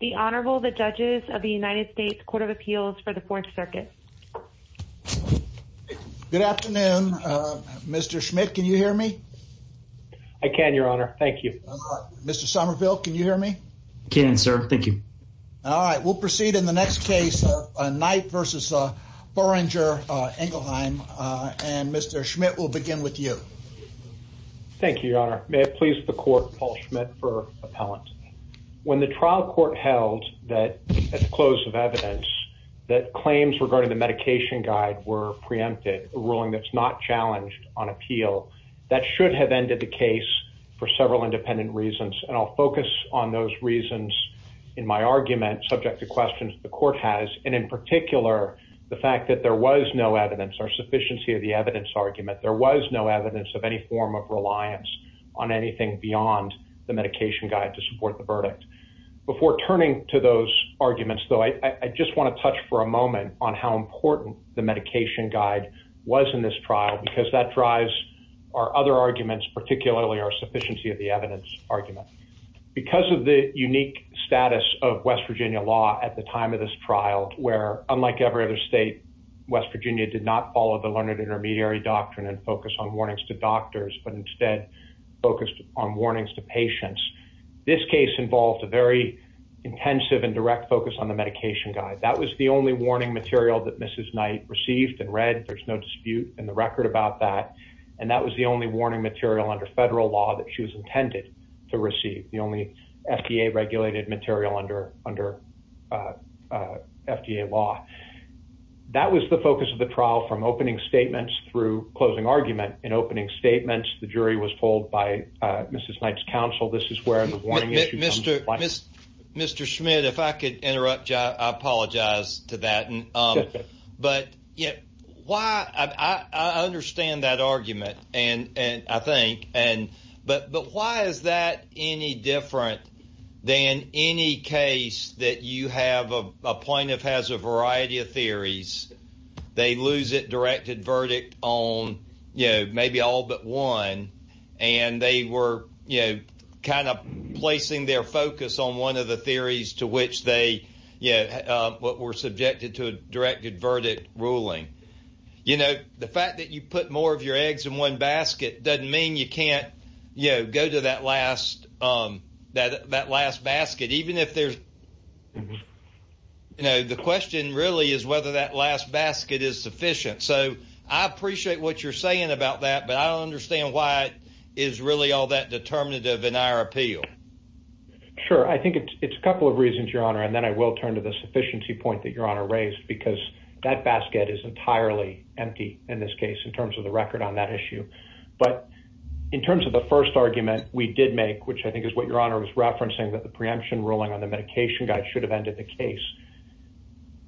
The Honorable, the judges of the United States Court of Appeals for the Fourth Circuit. Good afternoon, Mr. Schmidt. Can you hear me? I can, Your Honor. Thank you. Mr. Somerville, can you hear me? I can, sir. Thank you. All right. We'll proceed in the next case, Knight v. Boehringer Ingelheim. And Mr. Schmidt, we'll begin with you. Thank you, Your Honor. May it please the court, Paul Schmidt for appellant. When the trial court held that at the close of evidence that claims regarding the medication guide were preempted, a ruling that's not challenged on appeal, that should have ended the case for several independent reasons. And I'll focus on those reasons in my argument subject to questions the court has, and in particular, the fact that there was no evidence or sufficiency of the evidence argument. There was no evidence of any form of reliance on anything beyond the medication guide to support the verdict. Before turning to those arguments, though, I just want to touch for a moment on how important the medication guide was in this trial, because that drives our other arguments, particularly our sufficiency of the evidence argument. Because of the unique status of West Virginia law at the time of this trial, where unlike every other state, West Virginia did not follow the learned intermediary doctrine and focus on warnings to doctors, but instead focused on warnings to patients. This case involved a very intensive and direct focus on the medication guide. That was the only warning material that Mrs. Knight received and read. There's no dispute in the record about that. And that was the only warning material under federal law that she was intended to receive. The only FDA-regulated material under FDA law. That was the focus of the trial from opening statements through closing argument. In opening statements, the jury was told by Mrs. Knight's counsel, this is where the warning issue comes into play. Mr. Schmidt, if I could interrupt you, I apologize to that. But I understand that argument, I think. But why is that any different than any case that you have, a plaintiff has a variety of theories, they lose a directed verdict on maybe all but one, and they were kind of placing their focus on one of the theories to which they were subjected to a directed verdict ruling. The fact that you put more of your eggs in one basket doesn't mean you can't go to that last basket. Even if there's, the question really is whether that last basket is sufficient. So I appreciate what you're saying about that, but I don't understand why it is really all that determinative in our appeal. Sure, I think it's a couple of reasons, Your Honor, and then I will turn to the sufficiency point that Your Honor raised, because that basket is entirely empty in this case in terms of the record on that issue. But in terms of the first argument we did make, which I think is what Your Honor was referencing, that the preemption ruling on the medication guide should have ended the case,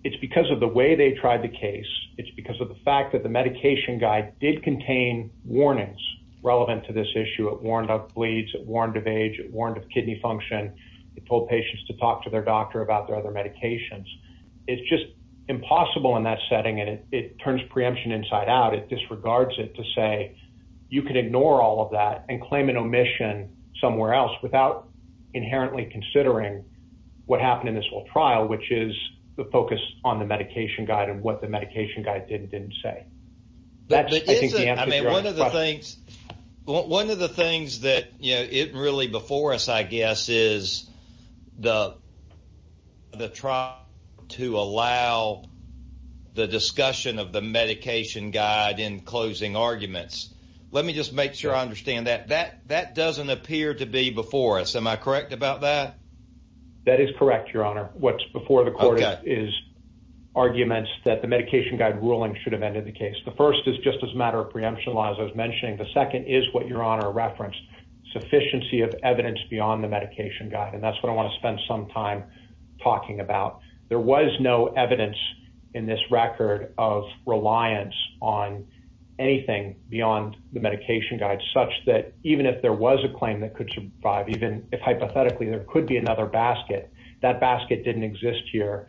it's because of the way they tried the case, it's because of the fact that the medication guide did contain warnings relevant to this issue. It warned of bleeds, it warned of age, it warned of kidney function, it told patients to talk to their doctor about their other medications. It's just impossible in that setting, and it turns preemption inside out. It disregards it to say you can ignore all of that and claim an omission somewhere else without inherently considering what happened in this whole trial, which is the focus on the medication guide and what the medication guide did and didn't say. That's, I think, the answer to Your Honor's question. One of the things that isn't really before us, I guess, is the trial to allow the discussion of the medication guide in closing arguments. Let me just make sure I understand that. That doesn't appear to be before us. Am I correct about that? That is correct, Your Honor. What's before the court is arguments that the medication guide ruling should have ended the case. The first is just as a matter of preemption, as I was mentioning. The second is what Your Honor referenced, sufficiency of evidence beyond the medication guide, and that's what I want to spend some time talking about. There was no evidence in this record of reliance on anything beyond the medication guide, such that even if there was a claim that could survive, even if hypothetically there could be another basket, that basket didn't exist here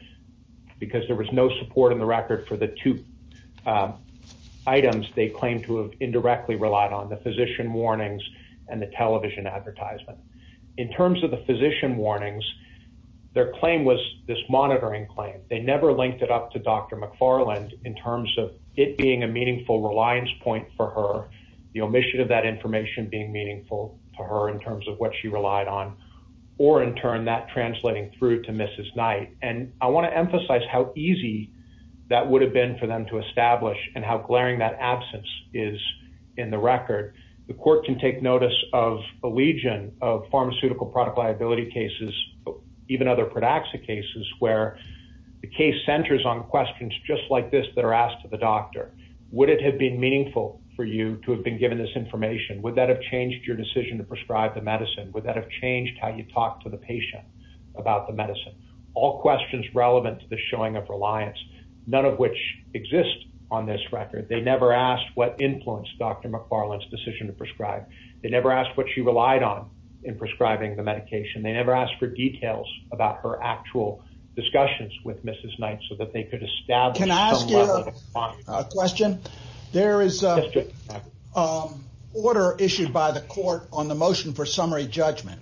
because there was no support in the record for the two items they claimed to have indirectly relied on, the physician warnings and the television advertisement. In terms of the physician warnings, their claim was this monitoring claim. They never linked it up to Dr. McFarland in terms of it being a meaningful reliance point for her, the omission of that information being meaningful to her in terms of what she relied on, or, in turn, that translating through to Mrs. Knight. And I want to emphasize how easy that would have been for them to establish and how glaring that absence is in the record. The court can take notice of a legion of pharmaceutical product liability cases, even other Pradaxa cases, where the case centers on questions just like this that are asked to the doctor. Would it have been meaningful for you to have been given this information? Would that have changed your decision to prescribe the medicine? All questions relevant to the showing of reliance, none of which exist on this record. They never asked what influenced Dr. McFarland's decision to prescribe. They never asked what she relied on in prescribing the medication. They never asked for details about her actual discussions with Mrs. Knight so that they could establish the level of confidence. Can I ask you a question? There is an order issued by the court on the motion for summary judgment,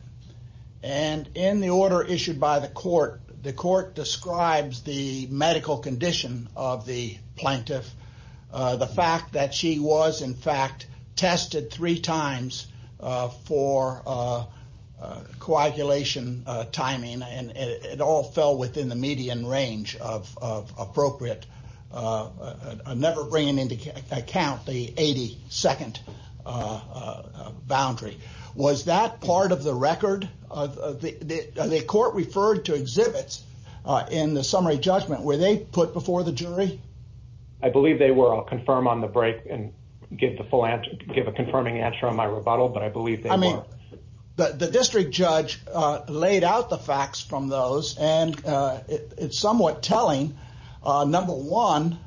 and in the order issued by the court, the court describes the medical condition of the plaintiff, the fact that she was, in fact, tested three times for coagulation timing, and it all fell within the median range of appropriate. I'm never bringing into account the 80-second boundary. Was that part of the record? The court referred to exhibits in the summary judgment. Were they put before the jury? I believe they were. I'll confirm on the break and give a confirming answer on my rebuttal, but I believe they were. The district judge laid out the facts from those, and it's somewhat telling. Number one,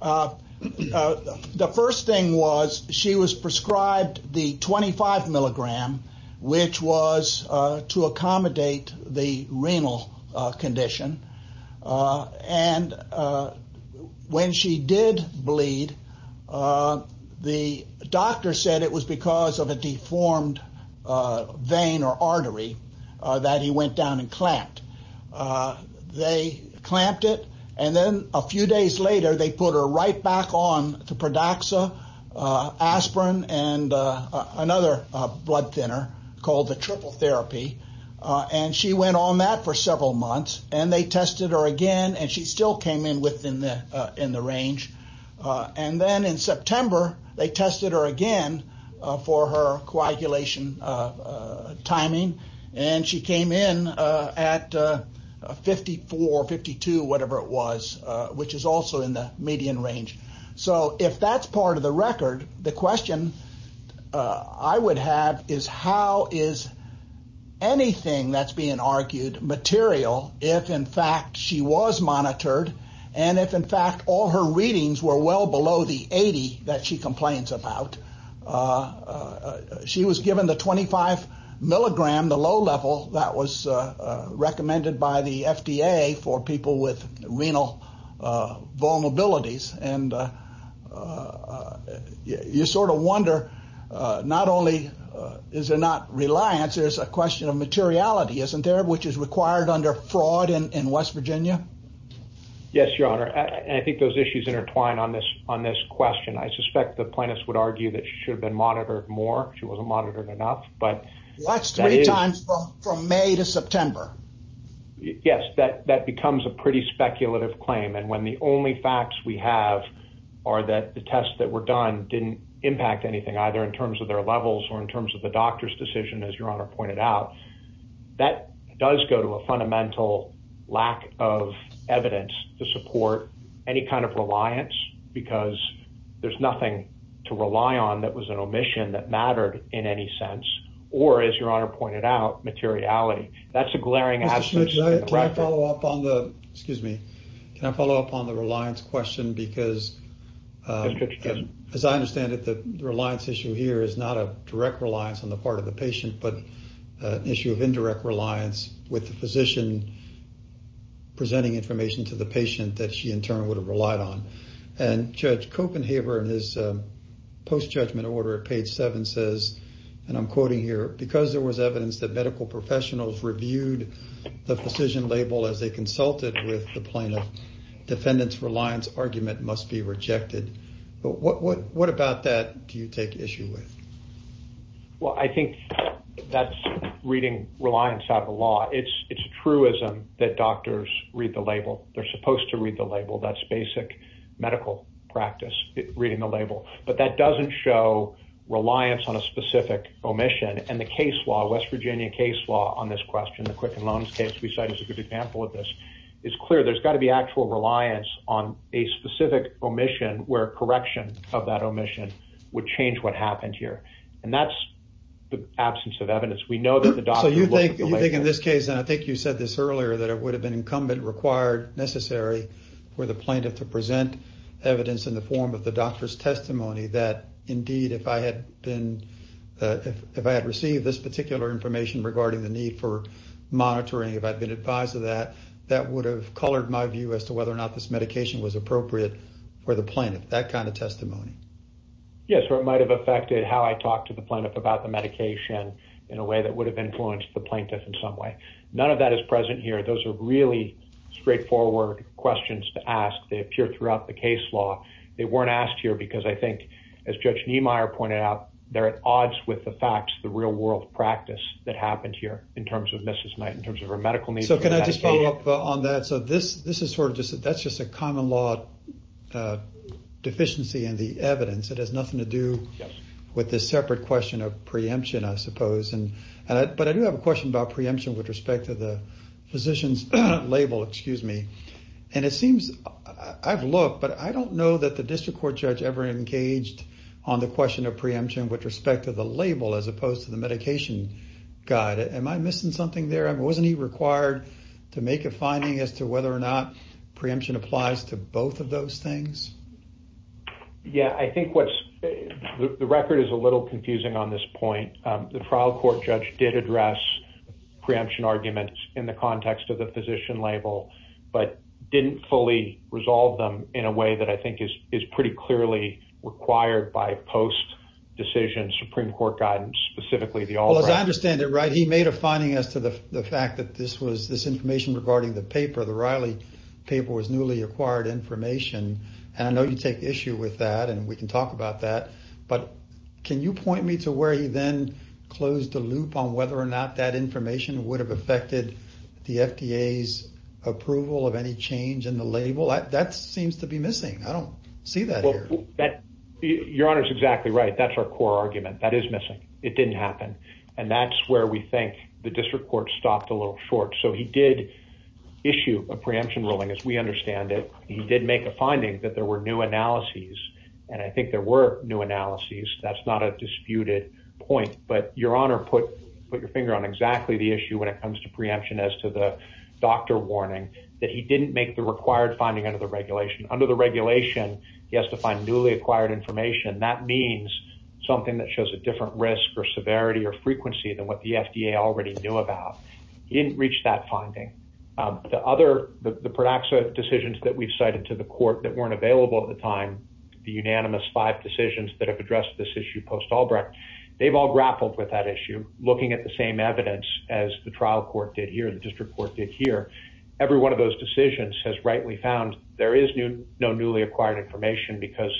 the first thing was she was prescribed the 25-milligram, which was to accommodate the renal condition, and when she did bleed, the doctor said it was because of a deformed vein or artery that he went down and clamped. They clamped it, and then a few days later, they put her right back on to Pradaxa, aspirin, and another blood thinner called the triple therapy, and she went on that for several months, and they tested her again, and she still came in within the range. And then in September, they tested her again for her coagulation timing, and she came in at 54, 52, whatever it was, which is also in the median range. So if that's part of the record, the question I would have is how is anything that's being argued material if, in fact, she was monitored and if, in fact, all her readings were well below the 80 that she complains about? She was given the 25-milligram, the low level that was recommended by the FDA for people with renal vulnerabilities, and you sort of wonder not only is there not reliance, there's a question of materiality, isn't there, which is required under fraud in West Virginia? Yes, Your Honor, and I think those issues intertwine on this question. I suspect the plaintiffs would argue that she should have been monitored more. She wasn't monitored enough, but that is- That's three times from May to September. Yes, that becomes a pretty speculative claim, and when the only facts we have are that the tests that were done didn't impact anything either in terms of their levels or in terms of the doctor's decision, as Your Honor pointed out, that does go to a fundamental lack of evidence to support any kind of reliance because there's nothing to rely on that was an omission that mattered in any sense or, as Your Honor pointed out, materiality. That's a glaring absence- Mr. Schmidt, can I follow up on the- Excuse me. Can I follow up on the reliance question because- Mr. Schmidt. As I understand it, the reliance issue here is not a direct reliance on the part of the patient, but an issue of indirect reliance with the physician presenting information to the patient that she, in turn, would have relied on. And Judge Copenhaver, in his post-judgment order at page 7, says, and I'm quoting here, because there was evidence that medical professionals reviewed the physician label as they consulted with the plaintiff, defendant's reliance argument must be rejected. But what about that do you take issue with? Well, I think that's reading reliance out of the law. It's a truism that doctors read the label. They're supposed to read the label. That's basic medical practice, reading the label. But that doesn't show reliance on a specific omission. And the case law, West Virginia case law, on this question, the Quicken Loans case we cite as a good example of this, is clear there's got to be actual reliance on a specific omission where correction of that omission would change what happened here. And that's the absence of evidence. We know that the doctor looked at the label. So you think in this case, and I think you said this earlier, that it would have been incumbent, required, necessary for the plaintiff to present evidence in the form of the doctor's testimony that, indeed, if I had received this particular information regarding the need for monitoring, if I'd been advised of that, that would have colored my view as to whether or not this medication was appropriate for the plaintiff, that kind of testimony. Yes, or it might have affected how I talked to the plaintiff about the medication in a way that would have influenced the plaintiff in some way. None of that is present here. Those are really straightforward questions to ask. They appear throughout the case law. They weren't asked here because I think, as Judge Niemeyer pointed out, they're at odds with the facts, the real-world practice that happened here in terms of Mrs. Knight, in terms of her medical needs. So can I just follow up on that? So that's just a common-law deficiency in the evidence. It has nothing to do with this separate question of preemption, I suppose. But I do have a question about preemption with respect to the physician's label. And it seems I've looked, but I don't know that the district court judge ever engaged on the question of preemption with respect to the label as opposed to the medication guide. Am I missing something there? Wasn't he required to make a finding as to whether or not preemption applies to both of those things? Yeah, I think the record is a little confusing on this point. The trial court judge did address preemption arguments in the context of the physician label, but didn't fully resolve them in a way that I think is pretty clearly required by post-decision Supreme Court guidance, specifically the All-Riley. Well, as I understand it, right, he made a finding as to the fact that this information regarding the paper, the Riley paper, was newly acquired information. And I know you take issue with that, and we can talk about that. But can you point me to where he then closed the loop on whether or not that information would have affected the FDA's approval of any change in the label? That seems to be missing. I don't see that here. Your Honor is exactly right. That's our core argument. That is missing. It didn't happen. And that's where we think the district court stopped a little short. So he did issue a preemption ruling, as we understand it. He did make a finding that there were new analyses, and I think there were new analyses. That's not a disputed point. But Your Honor put your finger on exactly the issue when it comes to preemption as to the doctor warning that he didn't make the required finding under the regulation. Under the regulation, he has to find newly acquired information. That means something that shows a different risk or severity or frequency than what the FDA already knew about. He didn't reach that finding. The Pradaxa decisions that we've cited to the court that weren't available at the time, the unanimous five decisions that have addressed this issue post-Albrecht, they've all grappled with that issue, looking at the same evidence as the trial court did here, the district court did here. Every one of those decisions has rightly found there is no newly acquired information because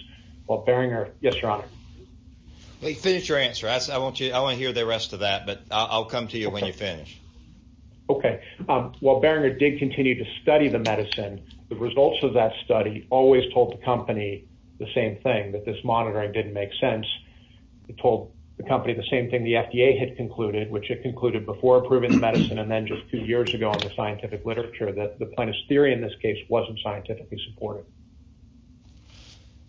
while Beringer – yes, Your Honor. Finish your answer. I want to hear the rest of that, but I'll come to you when you finish. Okay. While Beringer did continue to study the medicine, the results of that study always told the company the same thing, that this monitoring didn't make sense. It told the company the same thing the FDA had concluded, which it concluded before approving the medicine and then just two years ago in the scientific literature, that the plaintiff's theory in this case wasn't scientifically supported.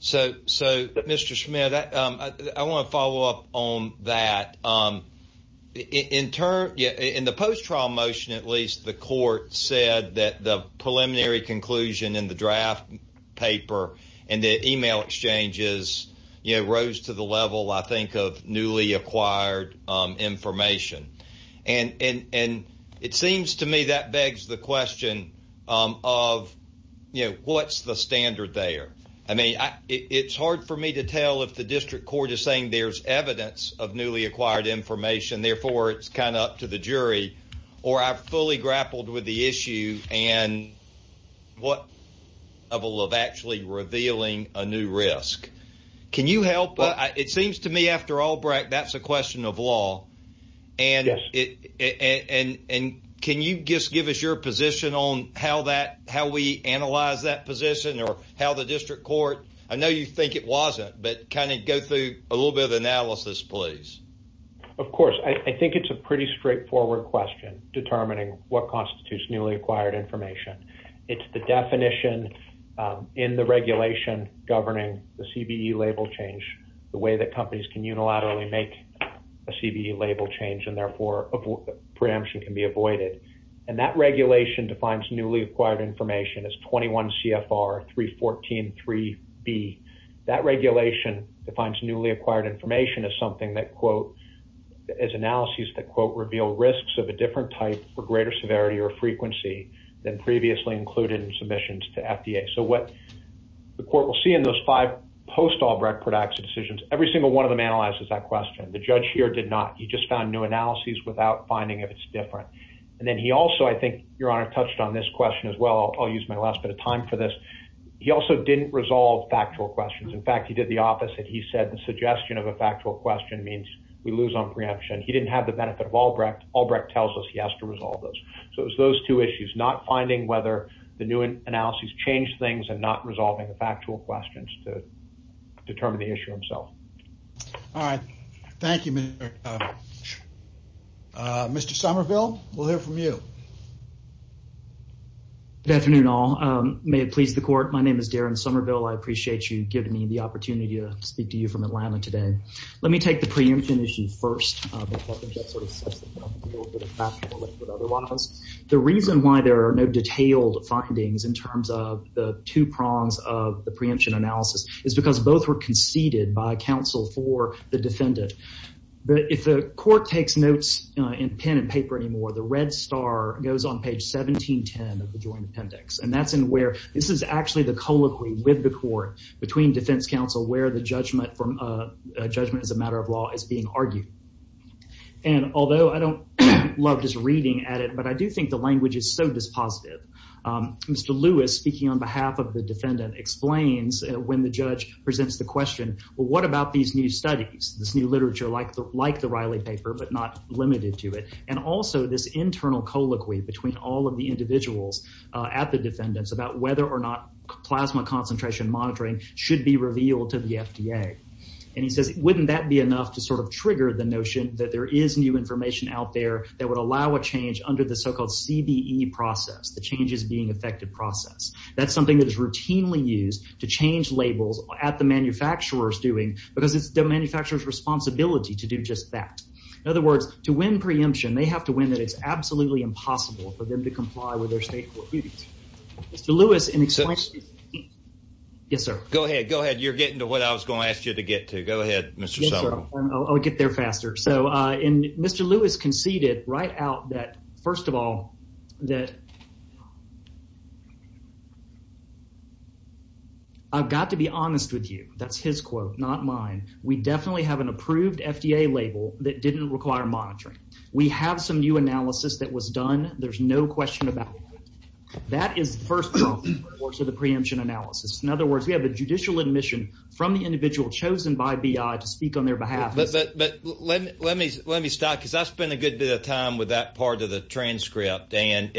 So, Mr. Schmidt, I want to follow up on that. In the post-trial motion, at least, the court said that the preliminary conclusion in the draft paper and the email exchanges rose to the level, I think, of newly acquired information. And it seems to me that begs the question of what's the standard there? I mean, it's hard for me to tell if the district court is saying there's evidence of newly acquired information, therefore it's kind of up to the jury, or I've fully grappled with the issue and what level of actually revealing a new risk. Can you help? It seems to me, after Albrecht, that's a question of law. Yes. And can you just give us your position on how we analyze that position or how the district court? I know you think it wasn't, but kind of go through a little bit of analysis, please. Of course. I think it's a pretty straightforward question, determining what constitutes newly acquired information. It's the definition in the regulation governing the CBE label change, the way that companies can unilaterally make a CBE label change and, therefore, preemption can be avoided. And that regulation defines newly acquired information as 21 CFR 314.3b. That regulation defines newly acquired information as something that, quote, as analyses that, quote, reveal risks of a different type or greater severity or frequency than previously included in submissions to FDA. So what the court will see in those five post-Albrecht productive decisions, every single one of them analyzes that question. The judge here did not. He just found new analyses without finding if it's different. And then he also, I think, Your Honor, touched on this question as well. I'll use my last bit of time for this. He also didn't resolve factual questions. In fact, he did the opposite. He said the suggestion of a factual question means we lose on preemption. He didn't have the benefit of Albrecht. Albrecht tells us he has to resolve those. So it was those two issues, not finding whether the new analyses changed things and not resolving the factual questions to determine the issue himself. All right. Thank you, Mr. Somerville. We'll hear from you. Good afternoon, all. May it please the Court, my name is Darren Somerville. I appreciate you giving me the opportunity to speak to you from Atlanta today. Let me take the preemption issue first. The reason why there are no detailed findings in terms of the two prongs of the preemption analysis is because both were conceded by counsel for the defendant. If the court takes notes in pen and paper anymore, the red star goes on page 1710 of the Joint Appendix. And that's in where this is actually the colloquy with the court between defense counsel where the judgment as a matter of law is being argued. And although I don't love just reading at it, but I do think the language is so dispositive. Mr. Lewis, speaking on behalf of the defendant, explains when the judge presents the question, well, what about these new studies, this new literature like the Riley paper but not limited to it? And also this internal colloquy between all of the individuals at the defendants about whether or not plasma concentration monitoring should be revealed to the FDA. And he says, wouldn't that be enough to sort of trigger the notion that there is new information out there that would allow a change under the so-called CBE process, the changes being effective process? That's something that is routinely used to change labels at the manufacturer's doing because it's the manufacturer's responsibility to do just that. In other words, to win preemption, they have to win that it's absolutely impossible for them to comply with their state court duties. Mr. Lewis, in exchange... Yes, sir. Go ahead. Go ahead. You're getting to what I was going to ask you to get to. Go ahead, Mr. Sullivan. I'll get there faster. So Mr. Lewis conceded right out that, first of all, that I've got to be honest with you. That's his quote, not mine. We definitely have an approved FDA label that didn't require monitoring. We have some new analysis that was done. There's no question about that. That is the first point of the preemption analysis. In other words, we have a judicial admission from the individual chosen by BI to speak on their behalf. But let me stop because I spent a good bit of time with that part of the transcript. And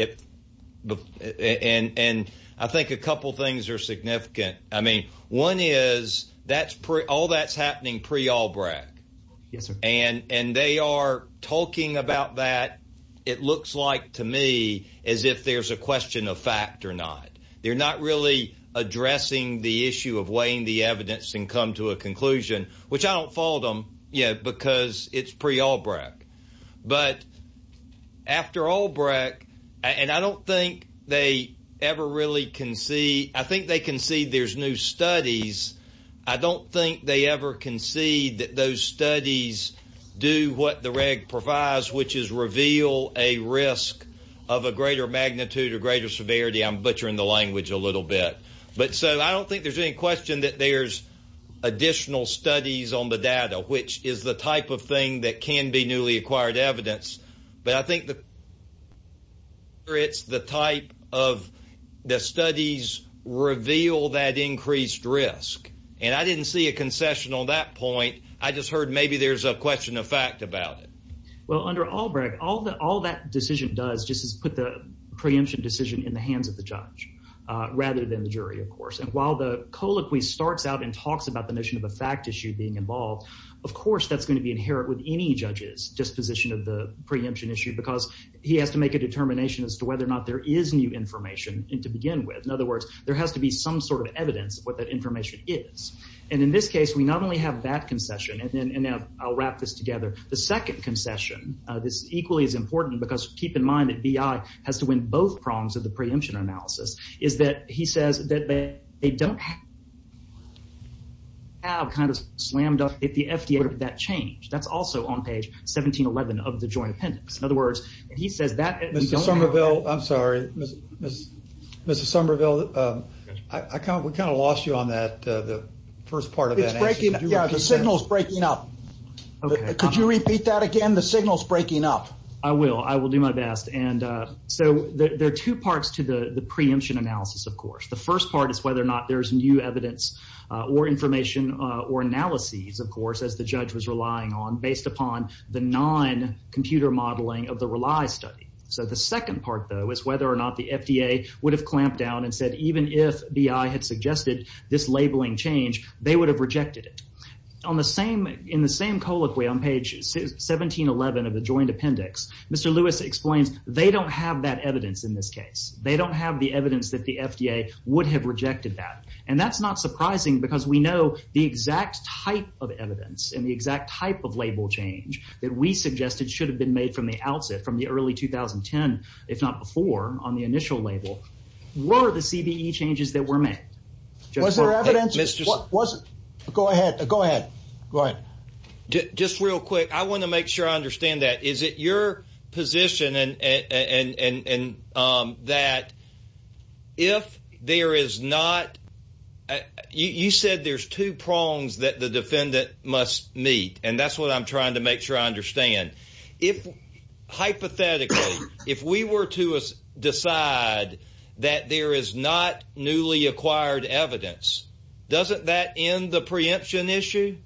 I think a couple of things are significant. I mean, one is all that's happening pre-Albrecht. Yes, sir. And they are talking about that, it looks like to me, as if there's a question of fact or not. They're not really addressing the issue of weighing the evidence and come to a conclusion, which I don't fault them because it's pre-Albrecht. But after Albrecht, and I don't think they ever really concede. I think they concede there's new studies. I don't think they ever concede that those studies do what the reg provides, which is reveal a risk of a greater magnitude or greater severity. I'm butchering the language a little bit. But so I don't think there's any question that there's additional studies on the data, which is the type of thing that can be newly acquired evidence. But I think it's the type of the studies reveal that increased risk. And I didn't see a concession on that point. I just heard maybe there's a question of fact about it. Well, under Albrecht, all that decision does just is put the preemption decision in the hands of the judge rather than the jury, of course. And while the colloquy starts out and talks about the notion of a fact issue being involved, of course, that's going to be inherent with any judge's disposition of the preemption issue because he has to make a determination as to whether or not there is new information to begin with. In other words, there has to be some sort of evidence of what that information is. And in this case, we not only have that concession. And I'll wrap this together. The second concession, this equally is important because keep in mind that B.I. has to win both prongs of the preemption analysis, is that he says that they don't have kind of slammed up at the FDA for that change. That's also on page 1711 of the joint appendix. In other words, he says that. Mr. Somerville, I'm sorry. Mr. Somerville, we kind of lost you on that, the first part of that. Yeah, the signal's breaking up. Could you repeat that again? The signal's breaking up. I will. I will do my best. And so there are two parts to the preemption analysis, of course. The first part is whether or not there's new evidence or information or analyses, of course, as the judge was relying on, based upon the non-computer modeling of the RELY study. So the second part, though, is whether or not the FDA would have clamped down and said, even if B.I. had suggested this labeling change, they would have rejected it. In the same colloquy, on page 1711 of the joint appendix, Mr. Lewis explains they don't have that evidence in this case. They don't have the evidence that the FDA would have rejected that. And that's not surprising because we know the exact type of evidence and the exact type of label change that we suggested should have been made from the outset, from the early 2010, if not before, on the initial label, were the CBE changes that were made. Was there evidence? Go ahead. Go ahead. Just real quick, I want to make sure I understand that. Is it your position that if there is not – you said there's two prongs that the defendant must meet, and that's what I'm trying to make sure I understand. Hypothetically, if we were to decide that there is not newly acquired evidence, doesn't that end the preemption issue?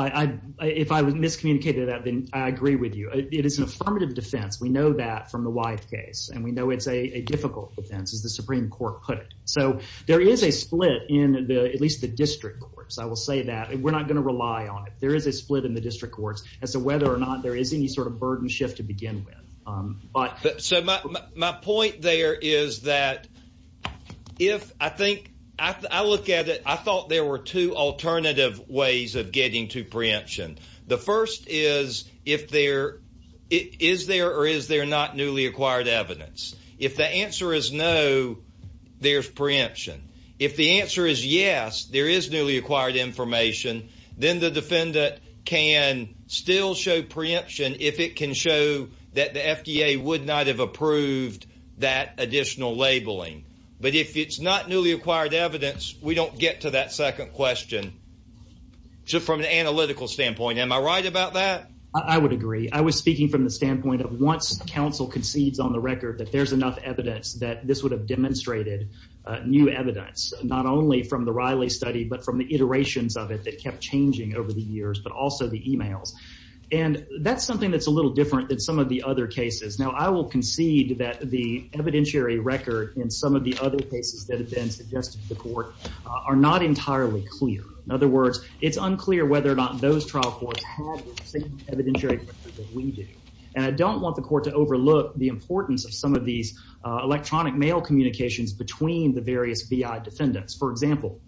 If I miscommunicated that, then I agree with you. It is an affirmative defense. We know that from the Wythe case, and we know it's a difficult defense, as the Supreme Court put it. So there is a split in at least the district courts. I will say that. We're not going to rely on it. There is a split in the district courts as to whether or not there is any sort of burden shift to begin with. But – So my point there is that if – I think – I look at it – I thought there were two alternative ways of getting to preemption. The first is if there – is there or is there not newly acquired evidence? If the answer is no, there's preemption. If the answer is yes, there is newly acquired information. Then the defendant can still show preemption if it can show that the FDA would not have approved that additional labeling. But if it's not newly acquired evidence, we don't get to that second question. So from an analytical standpoint, am I right about that? I would agree. I was speaking from the standpoint of once the counsel concedes on the record that there's enough evidence that this would have demonstrated new evidence, not only from the Riley study, but from the iterations of it that kept changing over the years, but also the emails. And that's something that's a little different than some of the other cases. Now I will concede that the evidentiary record in some of the other cases that have been suggested to the court are not entirely clear. In other words, it's unclear whether or not those trial courts have the same evidentiary record that we do. And I don't want the court to overlook the importance of some of these electronic mail communications between the various BI defendants. For example,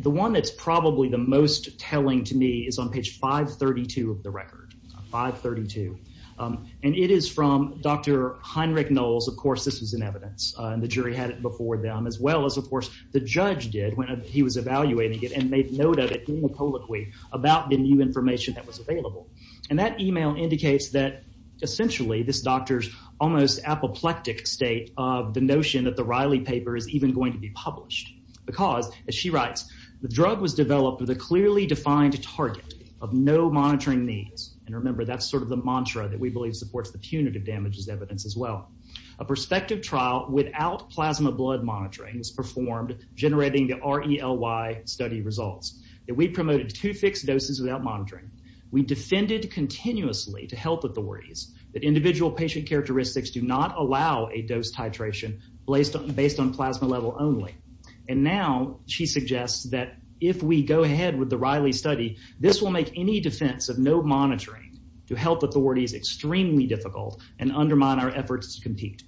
the one that's probably the most telling to me is on page 532 of the record. 532. And it is from Dr. Heinrich Knowles. Of course, this was in evidence, and the jury had it before them, as well as, of course, the judge did when he was evaluating it and made note of it anapolically about the new information that was available. And that email indicates that essentially this doctor's almost apoplectic state of the notion that the Riley paper is even going to be published. Because, as she writes, the drug was developed with a clearly defined target of no monitoring needs. And remember, that's sort of the mantra that we believe supports the punitive damages evidence as well. A prospective trial without plasma blood monitoring was performed, generating the RELY study results. We promoted two fixed doses without monitoring. We defended continuously to health authorities that individual patient characteristics do not allow a dose titration based on plasma level only. And now she suggests that if we go ahead with the Riley study, this will make any defense of no monitoring to health authorities extremely difficult and undermine our efforts to compete.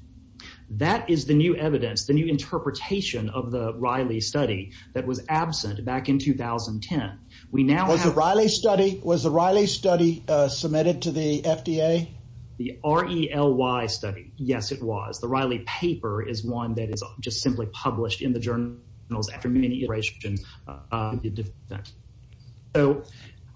That is the new evidence, the new interpretation of the Riley study that was absent back in 2010. Was the Riley study submitted to the FDA? The RELY study, yes, it was. The Riley paper is one that is just simply published in the journals after many iterations. So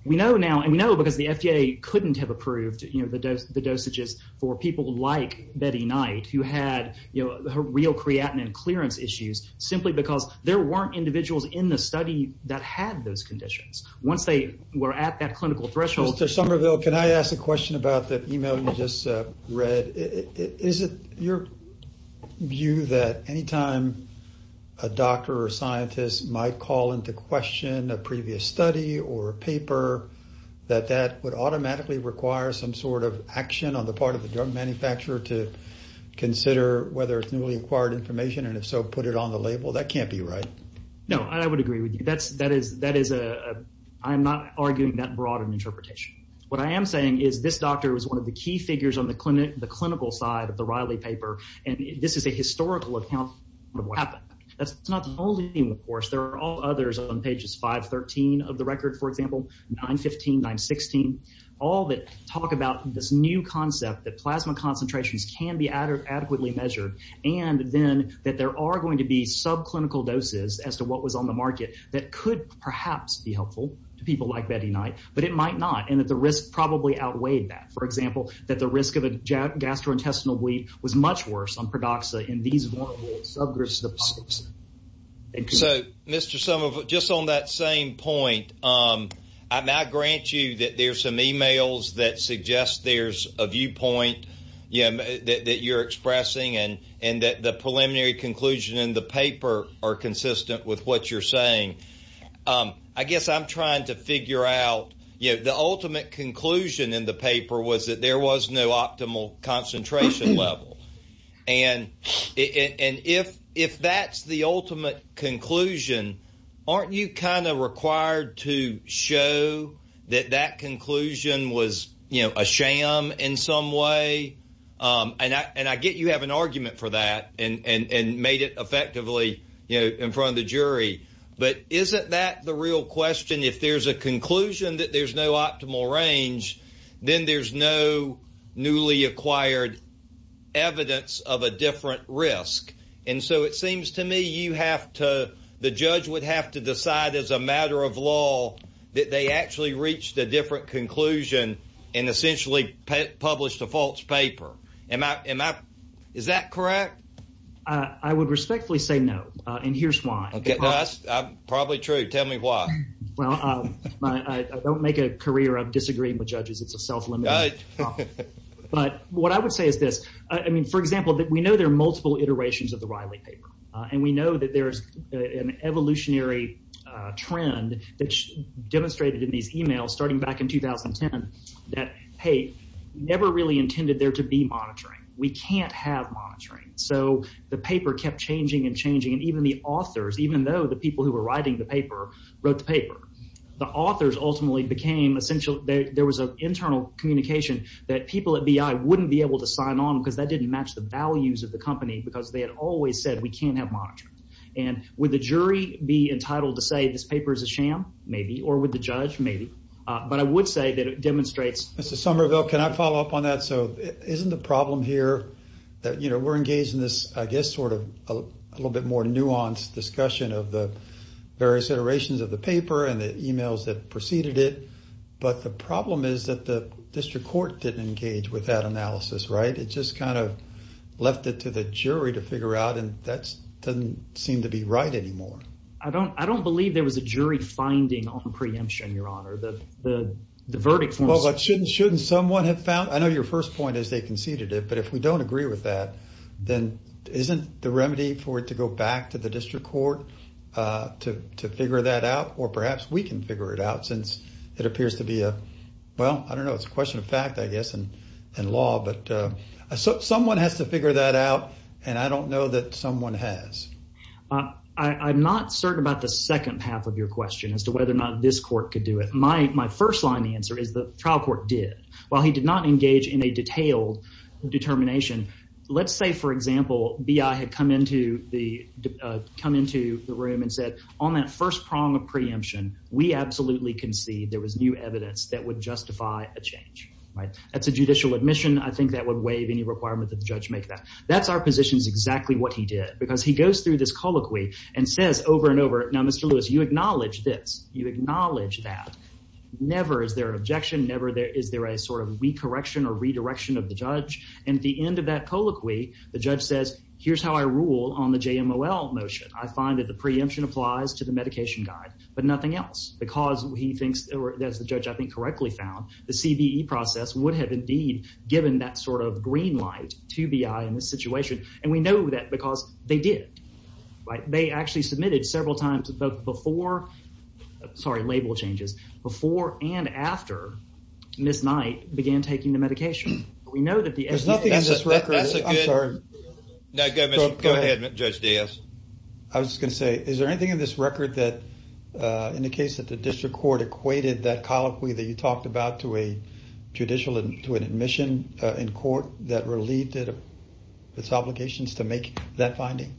we know now, and we know because the FDA couldn't have approved the dosages for people like Betty Knight, who had real creatinine clearance issues, simply because there weren't individuals in the study that had those conditions. Once they were at that clinical threshold... Mr. Somerville, can I ask a question about the email you just read? Is it your view that anytime a doctor or scientist might call into question a previous study or paper, that that would automatically require some sort of action on the part of the drug manufacturer to consider whether it's newly acquired information and, if so, put it on the label? That can't be right. No, I would agree with you. I'm not arguing that broad an interpretation. What I am saying is this doctor was one of the key figures on the clinical side of the Riley paper, and this is a historical account of what happened. That's not the only thing, of course. There are all others on pages 513 of the record, for example, 915, 916, all that talk about this new concept that plasma concentrations can be adequately measured and then that there are going to be subclinical doses, as to what was on the market, that could perhaps be helpful to people like Betty Knight, but it might not, and that the risk probably outweighed that. For example, that the risk of a gastrointestinal bleed was much worse on Pradoxa in these vulnerable subgroups of the population. So, Mr. Somerville, just on that same point, I grant you that there's some e-mails that suggest there's a viewpoint that you're expressing and that the preliminary conclusion in the paper are consistent with what you're saying. I guess I'm trying to figure out, you know, the ultimate conclusion in the paper was that there was no optimal concentration level, and if that's the ultimate conclusion, aren't you kind of required to show that that conclusion was, you know, a sham in some way? And I get you have an argument for that and made it effectively, you know, in front of the jury, but isn't that the real question? If there's a conclusion that there's no optimal range, then there's no newly acquired evidence of a different risk. And so it seems to me you have to, the judge would have to decide as a matter of law that they actually reached a different conclusion and essentially published a false paper. Am I, is that correct? I would respectfully say no, and here's why. That's probably true. Tell me why. Well, I don't make a career of disagreeing with judges. It's a self-limiting job. But what I would say is this. I mean, for example, we know there are multiple iterations of the Riley paper, and we know that there's an evolutionary trend that's demonstrated in these emails starting back in 2010 that, hey, never really intended there to be monitoring. We can't have monitoring. So the paper kept changing and changing, and even the authors, even though the people who were writing the paper wrote the paper, the authors ultimately became essential. There was an internal communication that people at BI wouldn't be able to sign on because that didn't match the values of the company because they had always said we can't have monitoring. And would the jury be entitled to say this paper is a sham? Maybe. Or would the judge? Maybe. But I would say that it demonstrates. Mr. Somerville, can I follow up on that? So isn't the problem here that, you know, we're engaged in this, I guess, sort of a little bit more nuanced discussion of the various iterations of the paper and the emails that preceded it. But the problem is that the district court didn't engage with that analysis, right? It just kind of left it to the jury to figure out, and that doesn't seem to be right anymore. I don't believe there was a jury finding on preemption, Your Honor. Well, but shouldn't someone have found? I know your first point is they conceded it, but if we don't agree with that, then isn't the remedy for it to go back to the district court to figure that out? Or perhaps we can figure it out since it appears to be a, well, I don't know, it's a question of fact, I guess, and law. But someone has to figure that out, and I don't know that someone has. I'm not certain about the second half of your question as to whether or not this court could do it. My first line of answer is the trial court did. While he did not engage in a detailed determination, let's say, for example, B.I. had come into the room and said on that first prong of preemption, we absolutely concede there was new evidence that would justify a change. That's a judicial admission. I think that would waive any requirement that the judge make that. That's our position is exactly what he did because he goes through this colloquy and says over and over, now, Mr. Lewis, you acknowledge this. You acknowledge that. Never is there an objection. Never is there a sort of re-correction or re-direction of the judge. And at the end of that colloquy, the judge says, here's how I rule on the JMOL motion. I find that the preemption applies to the medication guide, but nothing else. Because he thinks, or as the judge I think correctly found, the CBE process would have indeed given that sort of green light to B.I. in this situation. And we know that because they did. They actually submitted several times before, sorry, label changes, before and after Ms. Knight began taking the medication. We know that the evidence in this record. I'm sorry. No, go ahead, Judge Diaz. I was just going to say, is there anything in this record that indicates that the district court equated that colloquy that you talked about to a judicial admission in court that relieved its obligations to make that finding?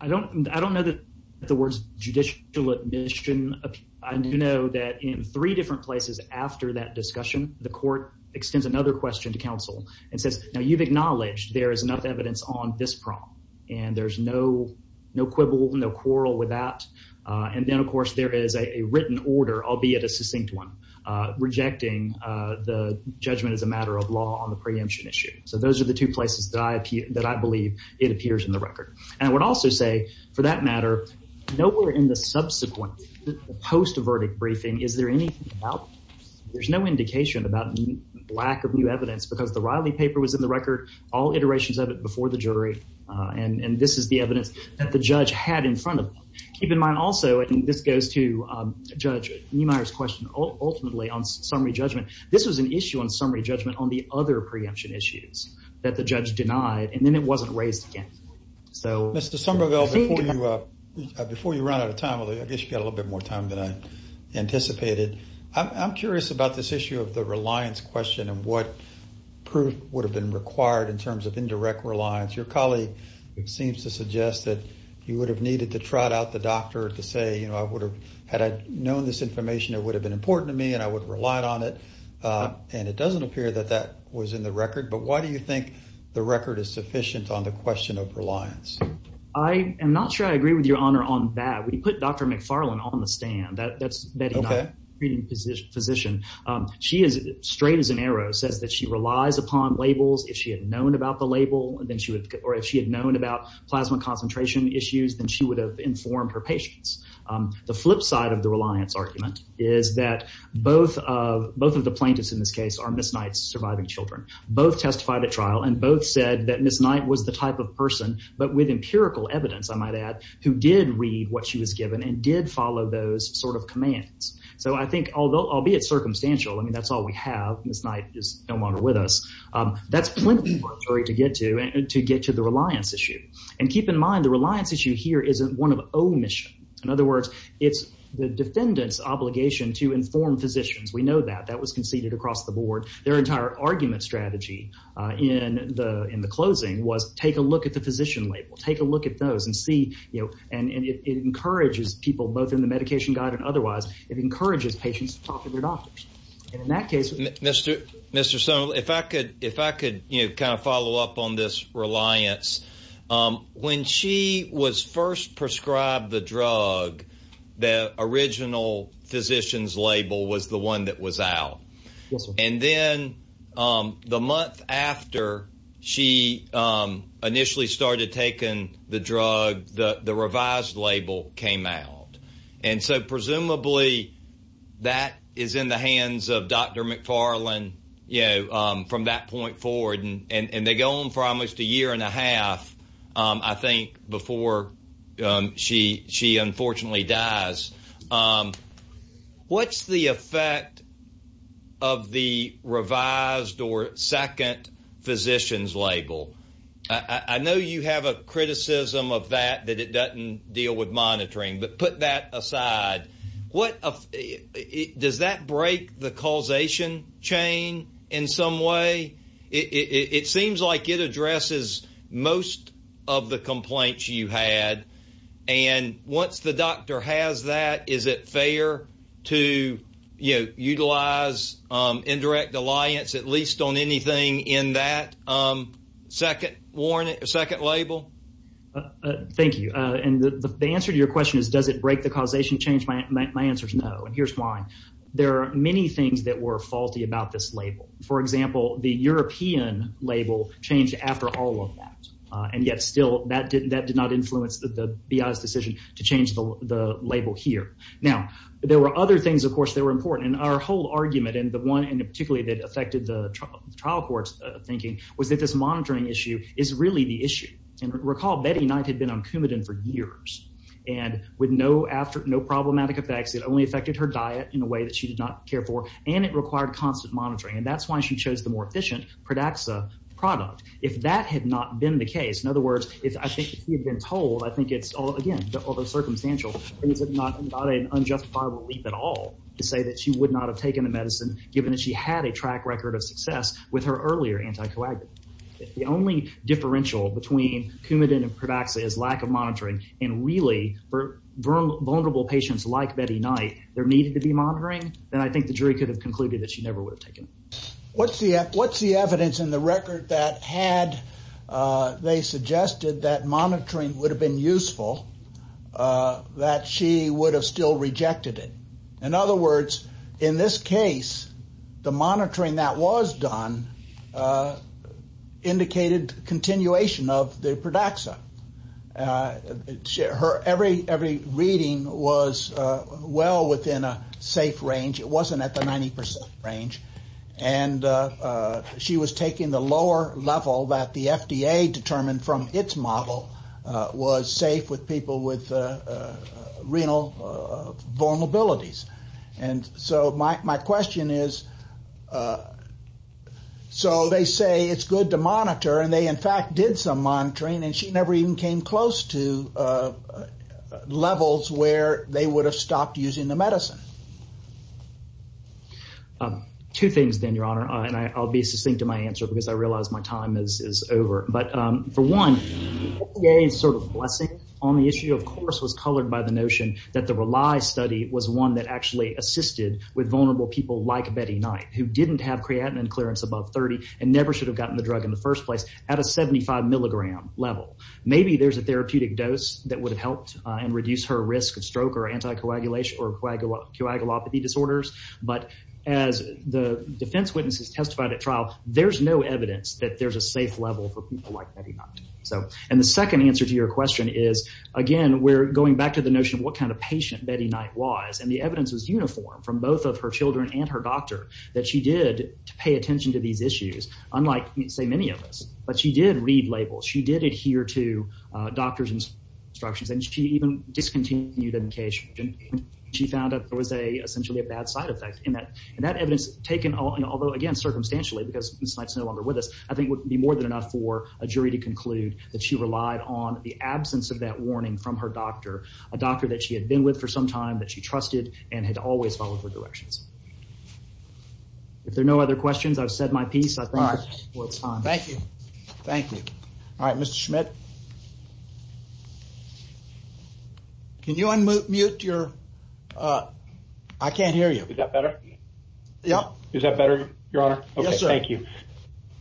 I don't know that the words judicial admission. I do know that in three different places after that discussion, the court extends another question to counsel and says, now you've acknowledged there is enough evidence on this prompt. And there's no quibble, no quarrel with that. And then, of course, there is a written order, albeit a succinct one, rejecting the judgment as a matter of law on the preemption issue. So those are the two places that I believe it appears in the record. And I would also say, for that matter, nowhere in the subsequent post-verdict briefing is there anything about, there's no indication about lack of new evidence because the Riley paper was in the record, all iterations of it before the jury, and this is the evidence that the judge had in front of them. Keep in mind also, and this goes to Judge Niemeyer's question ultimately on summary judgment, this was an issue on summary judgment on the other preemption issues that the judge denied, and then it wasn't raised again. Mr. Somerville, before you run out of time, I guess you've got a little bit more time than I anticipated, I'm curious about this issue of the reliance question and what proof would have been required in terms of indirect reliance. Your colleague seems to suggest that you would have needed to trot out the doctor to say, you know, I would have, had I known this information, it would have been important to me and I would have relied on it. And it doesn't appear that that was in the record, but why do you think the record is sufficient on the question of reliance? I am not sure I agree with your honor on that. We put Dr. McFarland on the stand. That's Betty's position. She is straight as an arrow, says that she relies upon labels. If she had known about the label or if she had known about plasma concentration issues, then she would have informed her patients. The flip side of the reliance argument is that both of the plaintiffs in this case are Ms. Knight's surviving children. Both testified at trial and both said that Ms. Knight was the type of person, but with empirical evidence, I might add, who did read what she was given and did follow those sort of commands. So I think, albeit circumstantial, I mean, that's all we have. Ms. Knight is no longer with us. That's plenty for a jury to get to and to get to the reliance issue. And keep in mind the reliance issue here isn't one of omission. In other words, it's the defendant's obligation to inform physicians. We know that. That was conceded across the board. Their entire argument strategy in the closing was take a look at the physician label. Take a look at those and see. And it encourages people both in the medication guide and otherwise. It encourages patients to talk to their doctors. Mr. Stone, if I could kind of follow up on this reliance. When she was first prescribed the drug, the original physician's label was the one that was out. And then the month after she initially started taking the drug, the revised label came out. And so presumably that is in the hands of Dr. McFarland from that point forward. And they go on for almost a year and a half, I think, before she unfortunately dies. What's the effect of the revised or second physician's label? I know you have a criticism of that, that it doesn't deal with monitoring. But put that aside. Does that break the causation chain in some way? It seems like it addresses most of the complaints you had. And once the doctor has that, is it fair to utilize indirect reliance at least on anything in that second label? Thank you. The answer to your question is does it break the causation chain? My answer is no. And here's why. There are many things that were faulty about this label. For example, the European label changed after all of that. And yet still that did not influence the BI's decision to change the label here. Now, there were other things, of course, that were important. And our whole argument, and the one particularly that affected the trial court's thinking, was that this monitoring issue is really the issue. And recall Betty Knight had been on Coumadin for years. And with no problematic effects, it only affected her diet in a way that she did not care for. And it required constant monitoring. And that's why she chose the more efficient Pradaxa product. If that had not been the case, in other words, I think if she had been told, I think it's, again, although circumstantial, it's not an unjustifiable leap at all to say that she would not have taken the medicine, given that she had a track record of success with her earlier anticoagulant. If the only differential between Coumadin and Pradaxa is lack of monitoring, and really for vulnerable patients like Betty Knight there needed to be monitoring, then I think the jury could have concluded that she never would have taken it. What's the evidence in the record that had they suggested that monitoring would have been useful, that she would have still rejected it? In other words, in this case, the monitoring that was done indicated continuation of the Pradaxa. Every reading was well within a safe range. It wasn't at the 90% range. And she was taking the lower level that the FDA determined from its model was safe with people with renal vulnerabilities. And so my question is, so they say it's good to monitor, and they in fact did some monitoring, and she never even came close to levels where they would have stopped using the medicine. Two things then, Your Honor, and I'll be succinct in my answer because I realize my time is over. But for one, the FDA's sort of blessing on the issue, of course, was colored by the notion that the Rely study was one that actually assisted with vulnerable people like Betty Knight, who didn't have creatinine clearance above 30 and never should have gotten the drug in the first place, at a 75 milligram level. Maybe there's a therapeutic dose that would have helped and reduced her risk of stroke or anticoagulation or coagulopathy disorders. But as the defense witnesses testified at trial, there's no evidence that there's a safe level for people like Betty Knight. And the second answer to your question is, again, we're going back to the notion of what kind of patient Betty Knight was. And the evidence was uniform from both of her children and her doctor that she did pay attention to these issues, unlike, say, many of us. But she did read labels. She did adhere to doctors' instructions. And she even discontinued medication. She found that there was essentially a bad side effect. And that evidence taken, although, again, circumstantially, because Ms. Knight's no longer with us, I think would be more than enough for a jury to conclude that she relied on the absence of that warning from her doctor, a doctor that she had been with for some time, that she trusted, and had always followed her directions. If there are no other questions, I've said my piece. I think it's time. Thank you. Thank you. All right, Mr. Schmidt. Can you unmute your ‑‑ I can't hear you. Is that better? Yeah. Is that better, Your Honor? Yes, sir. Okay, thank you.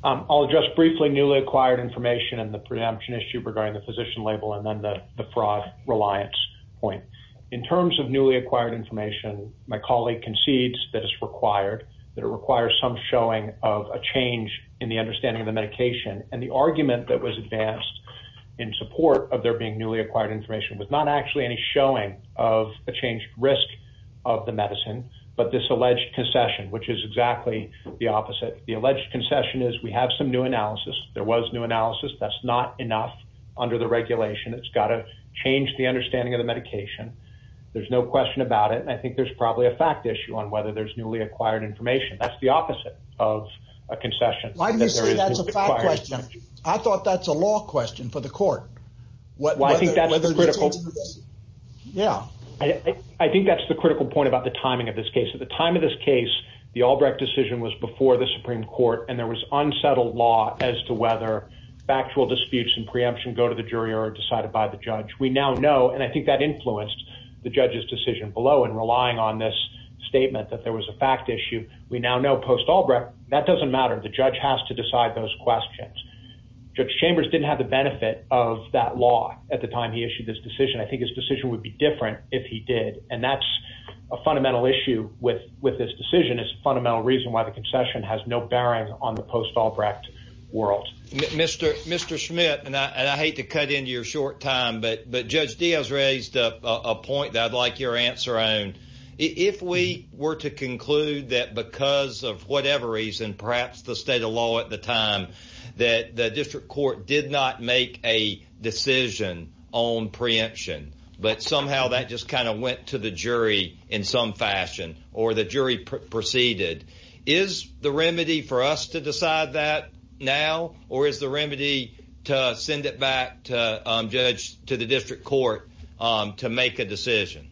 I'll address briefly newly acquired information and the preemption issue regarding the physician label and then the fraud reliance point. In terms of newly acquired information, my colleague concedes that it's required, that it requires some showing of a change in the understanding of the medication. And the argument that was advanced in support of there being newly acquired information was not actually any showing of a changed risk of the medicine, but this alleged concession, which is exactly the opposite. The alleged concession is we have some new analysis. There was new analysis. That's not enough under the regulation. It's got to change the understanding of the medication. There's no question about it. And I think there's probably a fact issue on whether there's newly acquired information. That's the opposite of a concession. Why do you say that's a fact question? I thought that's a law question for the court. Well, I think that's critical. Yeah. I think that's the critical point about the timing of this case. At the time of this case, the Albrecht decision was before the Supreme Court, and there was unsettled law as to whether factual disputes and preemption go to the jury or are decided by the judge. We now know, and I think that influenced the judge's decision below in relying on this statement that there was a fact issue. We now know post-Albrecht, that doesn't matter. The judge has to decide those questions. Judge Chambers didn't have the benefit of that law at the time he issued this decision. I think his decision would be different if he did, and that's a fundamental issue with this decision. It's a fundamental reason why the concession has no bearing on the post-Albrecht world. Mr. Schmidt, and I hate to cut into your short time, but Judge Diaz raised a point that I'd like your answer on. If we were to conclude that because of whatever reason, perhaps the state of law at the time, that the district court did not make a decision on preemption, but somehow that just kind of went to the jury in some fashion or the jury proceeded, is the remedy for us to decide that now, or is the remedy to send it back to the district court to make a decision?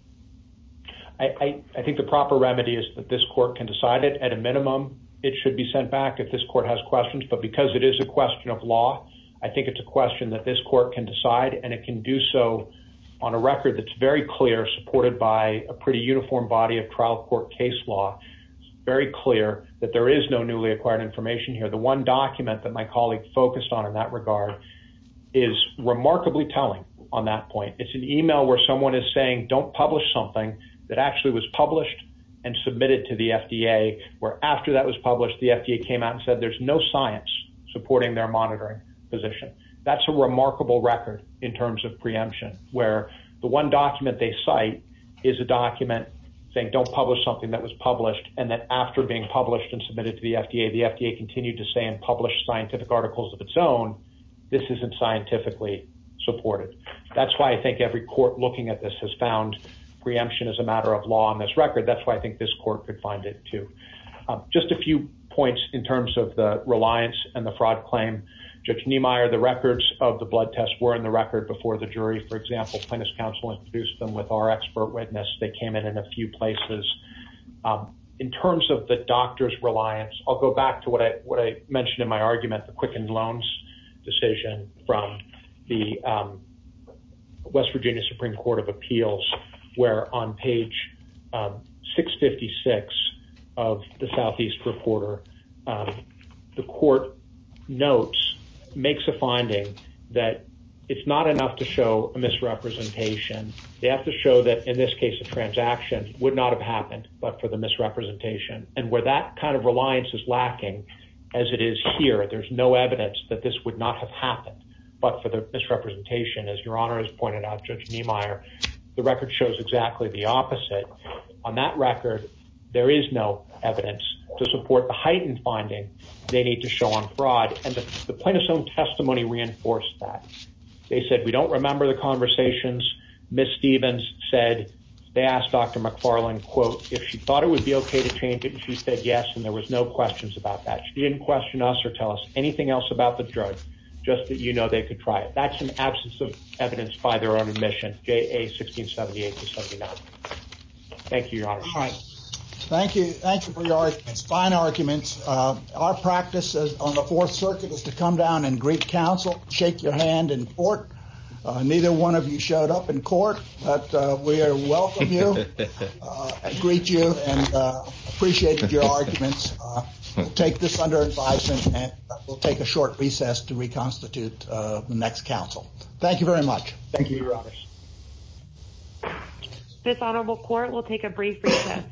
I think the proper remedy is that this court can decide it. At a minimum, it should be sent back if this court has questions, but because it is a question of law, I think it's a question that this court can decide, and it can do so on a record that's very clear, supported by a pretty uniform body of trial court case law. It's very clear that there is no newly acquired information here. The one document that my colleague focused on in that regard is remarkably telling on that point. It's an email where someone is saying, don't publish something that actually was published and submitted to the FDA, where after that was published, the FDA came out and said, there's no science supporting their monitoring position. That's a remarkable record in terms of preemption, where the one document they cite is a document saying, don't publish something that was published, and that after being published and submitted to the FDA, the FDA continued to say and publish scientific articles of its own. This isn't scientifically supported. That's why I think every court looking at this has found preemption is a matter of law in this record. That's why I think this court could find it too. Just a few points in terms of the reliance and the fraud claim. Judge Niemeyer, the records of the blood tests were in the record before the jury. For example, plaintiff's counsel introduced them with our expert witness. They came in in a few places. In terms of the doctor's reliance, I'll go back to what I mentioned in my argument, the Quicken Loans decision from the West Virginia Supreme Court of Appeals, where on page 656 of the Southeast Reporter, the court notes, makes a finding that it's not enough to show a misrepresentation. They have to show that, in this case, a transaction would not have happened but for the misrepresentation. And where that kind of reliance is lacking, as it is here, there's no evidence that this would not have happened. But for the misrepresentation, as Your Honor has pointed out, Judge Niemeyer, the record shows exactly the opposite. On that record, there is no evidence to support the heightened finding they need to show on fraud. And the plaintiff's own testimony reinforced that. They said, we don't remember the conversations. Ms. Stevens said, they asked Dr. McFarland, quote, if she thought it would be okay to change it, and she said yes, and there was no questions about that. She didn't question us or tell us anything else about the drug, just that you know they could try it. That's an absence of evidence by their own admission, J.A. 1678-79. Thank you, Your Honor. All right. Thank you. Thanks for your arguments. Fine arguments. Our practice on the Fourth Circuit is to come down and greet counsel, shake your hand in court. Neither one of you showed up in court, but we welcome you, greet you, and appreciate your arguments. We'll take this under advisement, and we'll take a short recess to reconstitute the next counsel. Thank you very much. Thank you, Your Honor. Fifth Honorable Court will take a brief recess.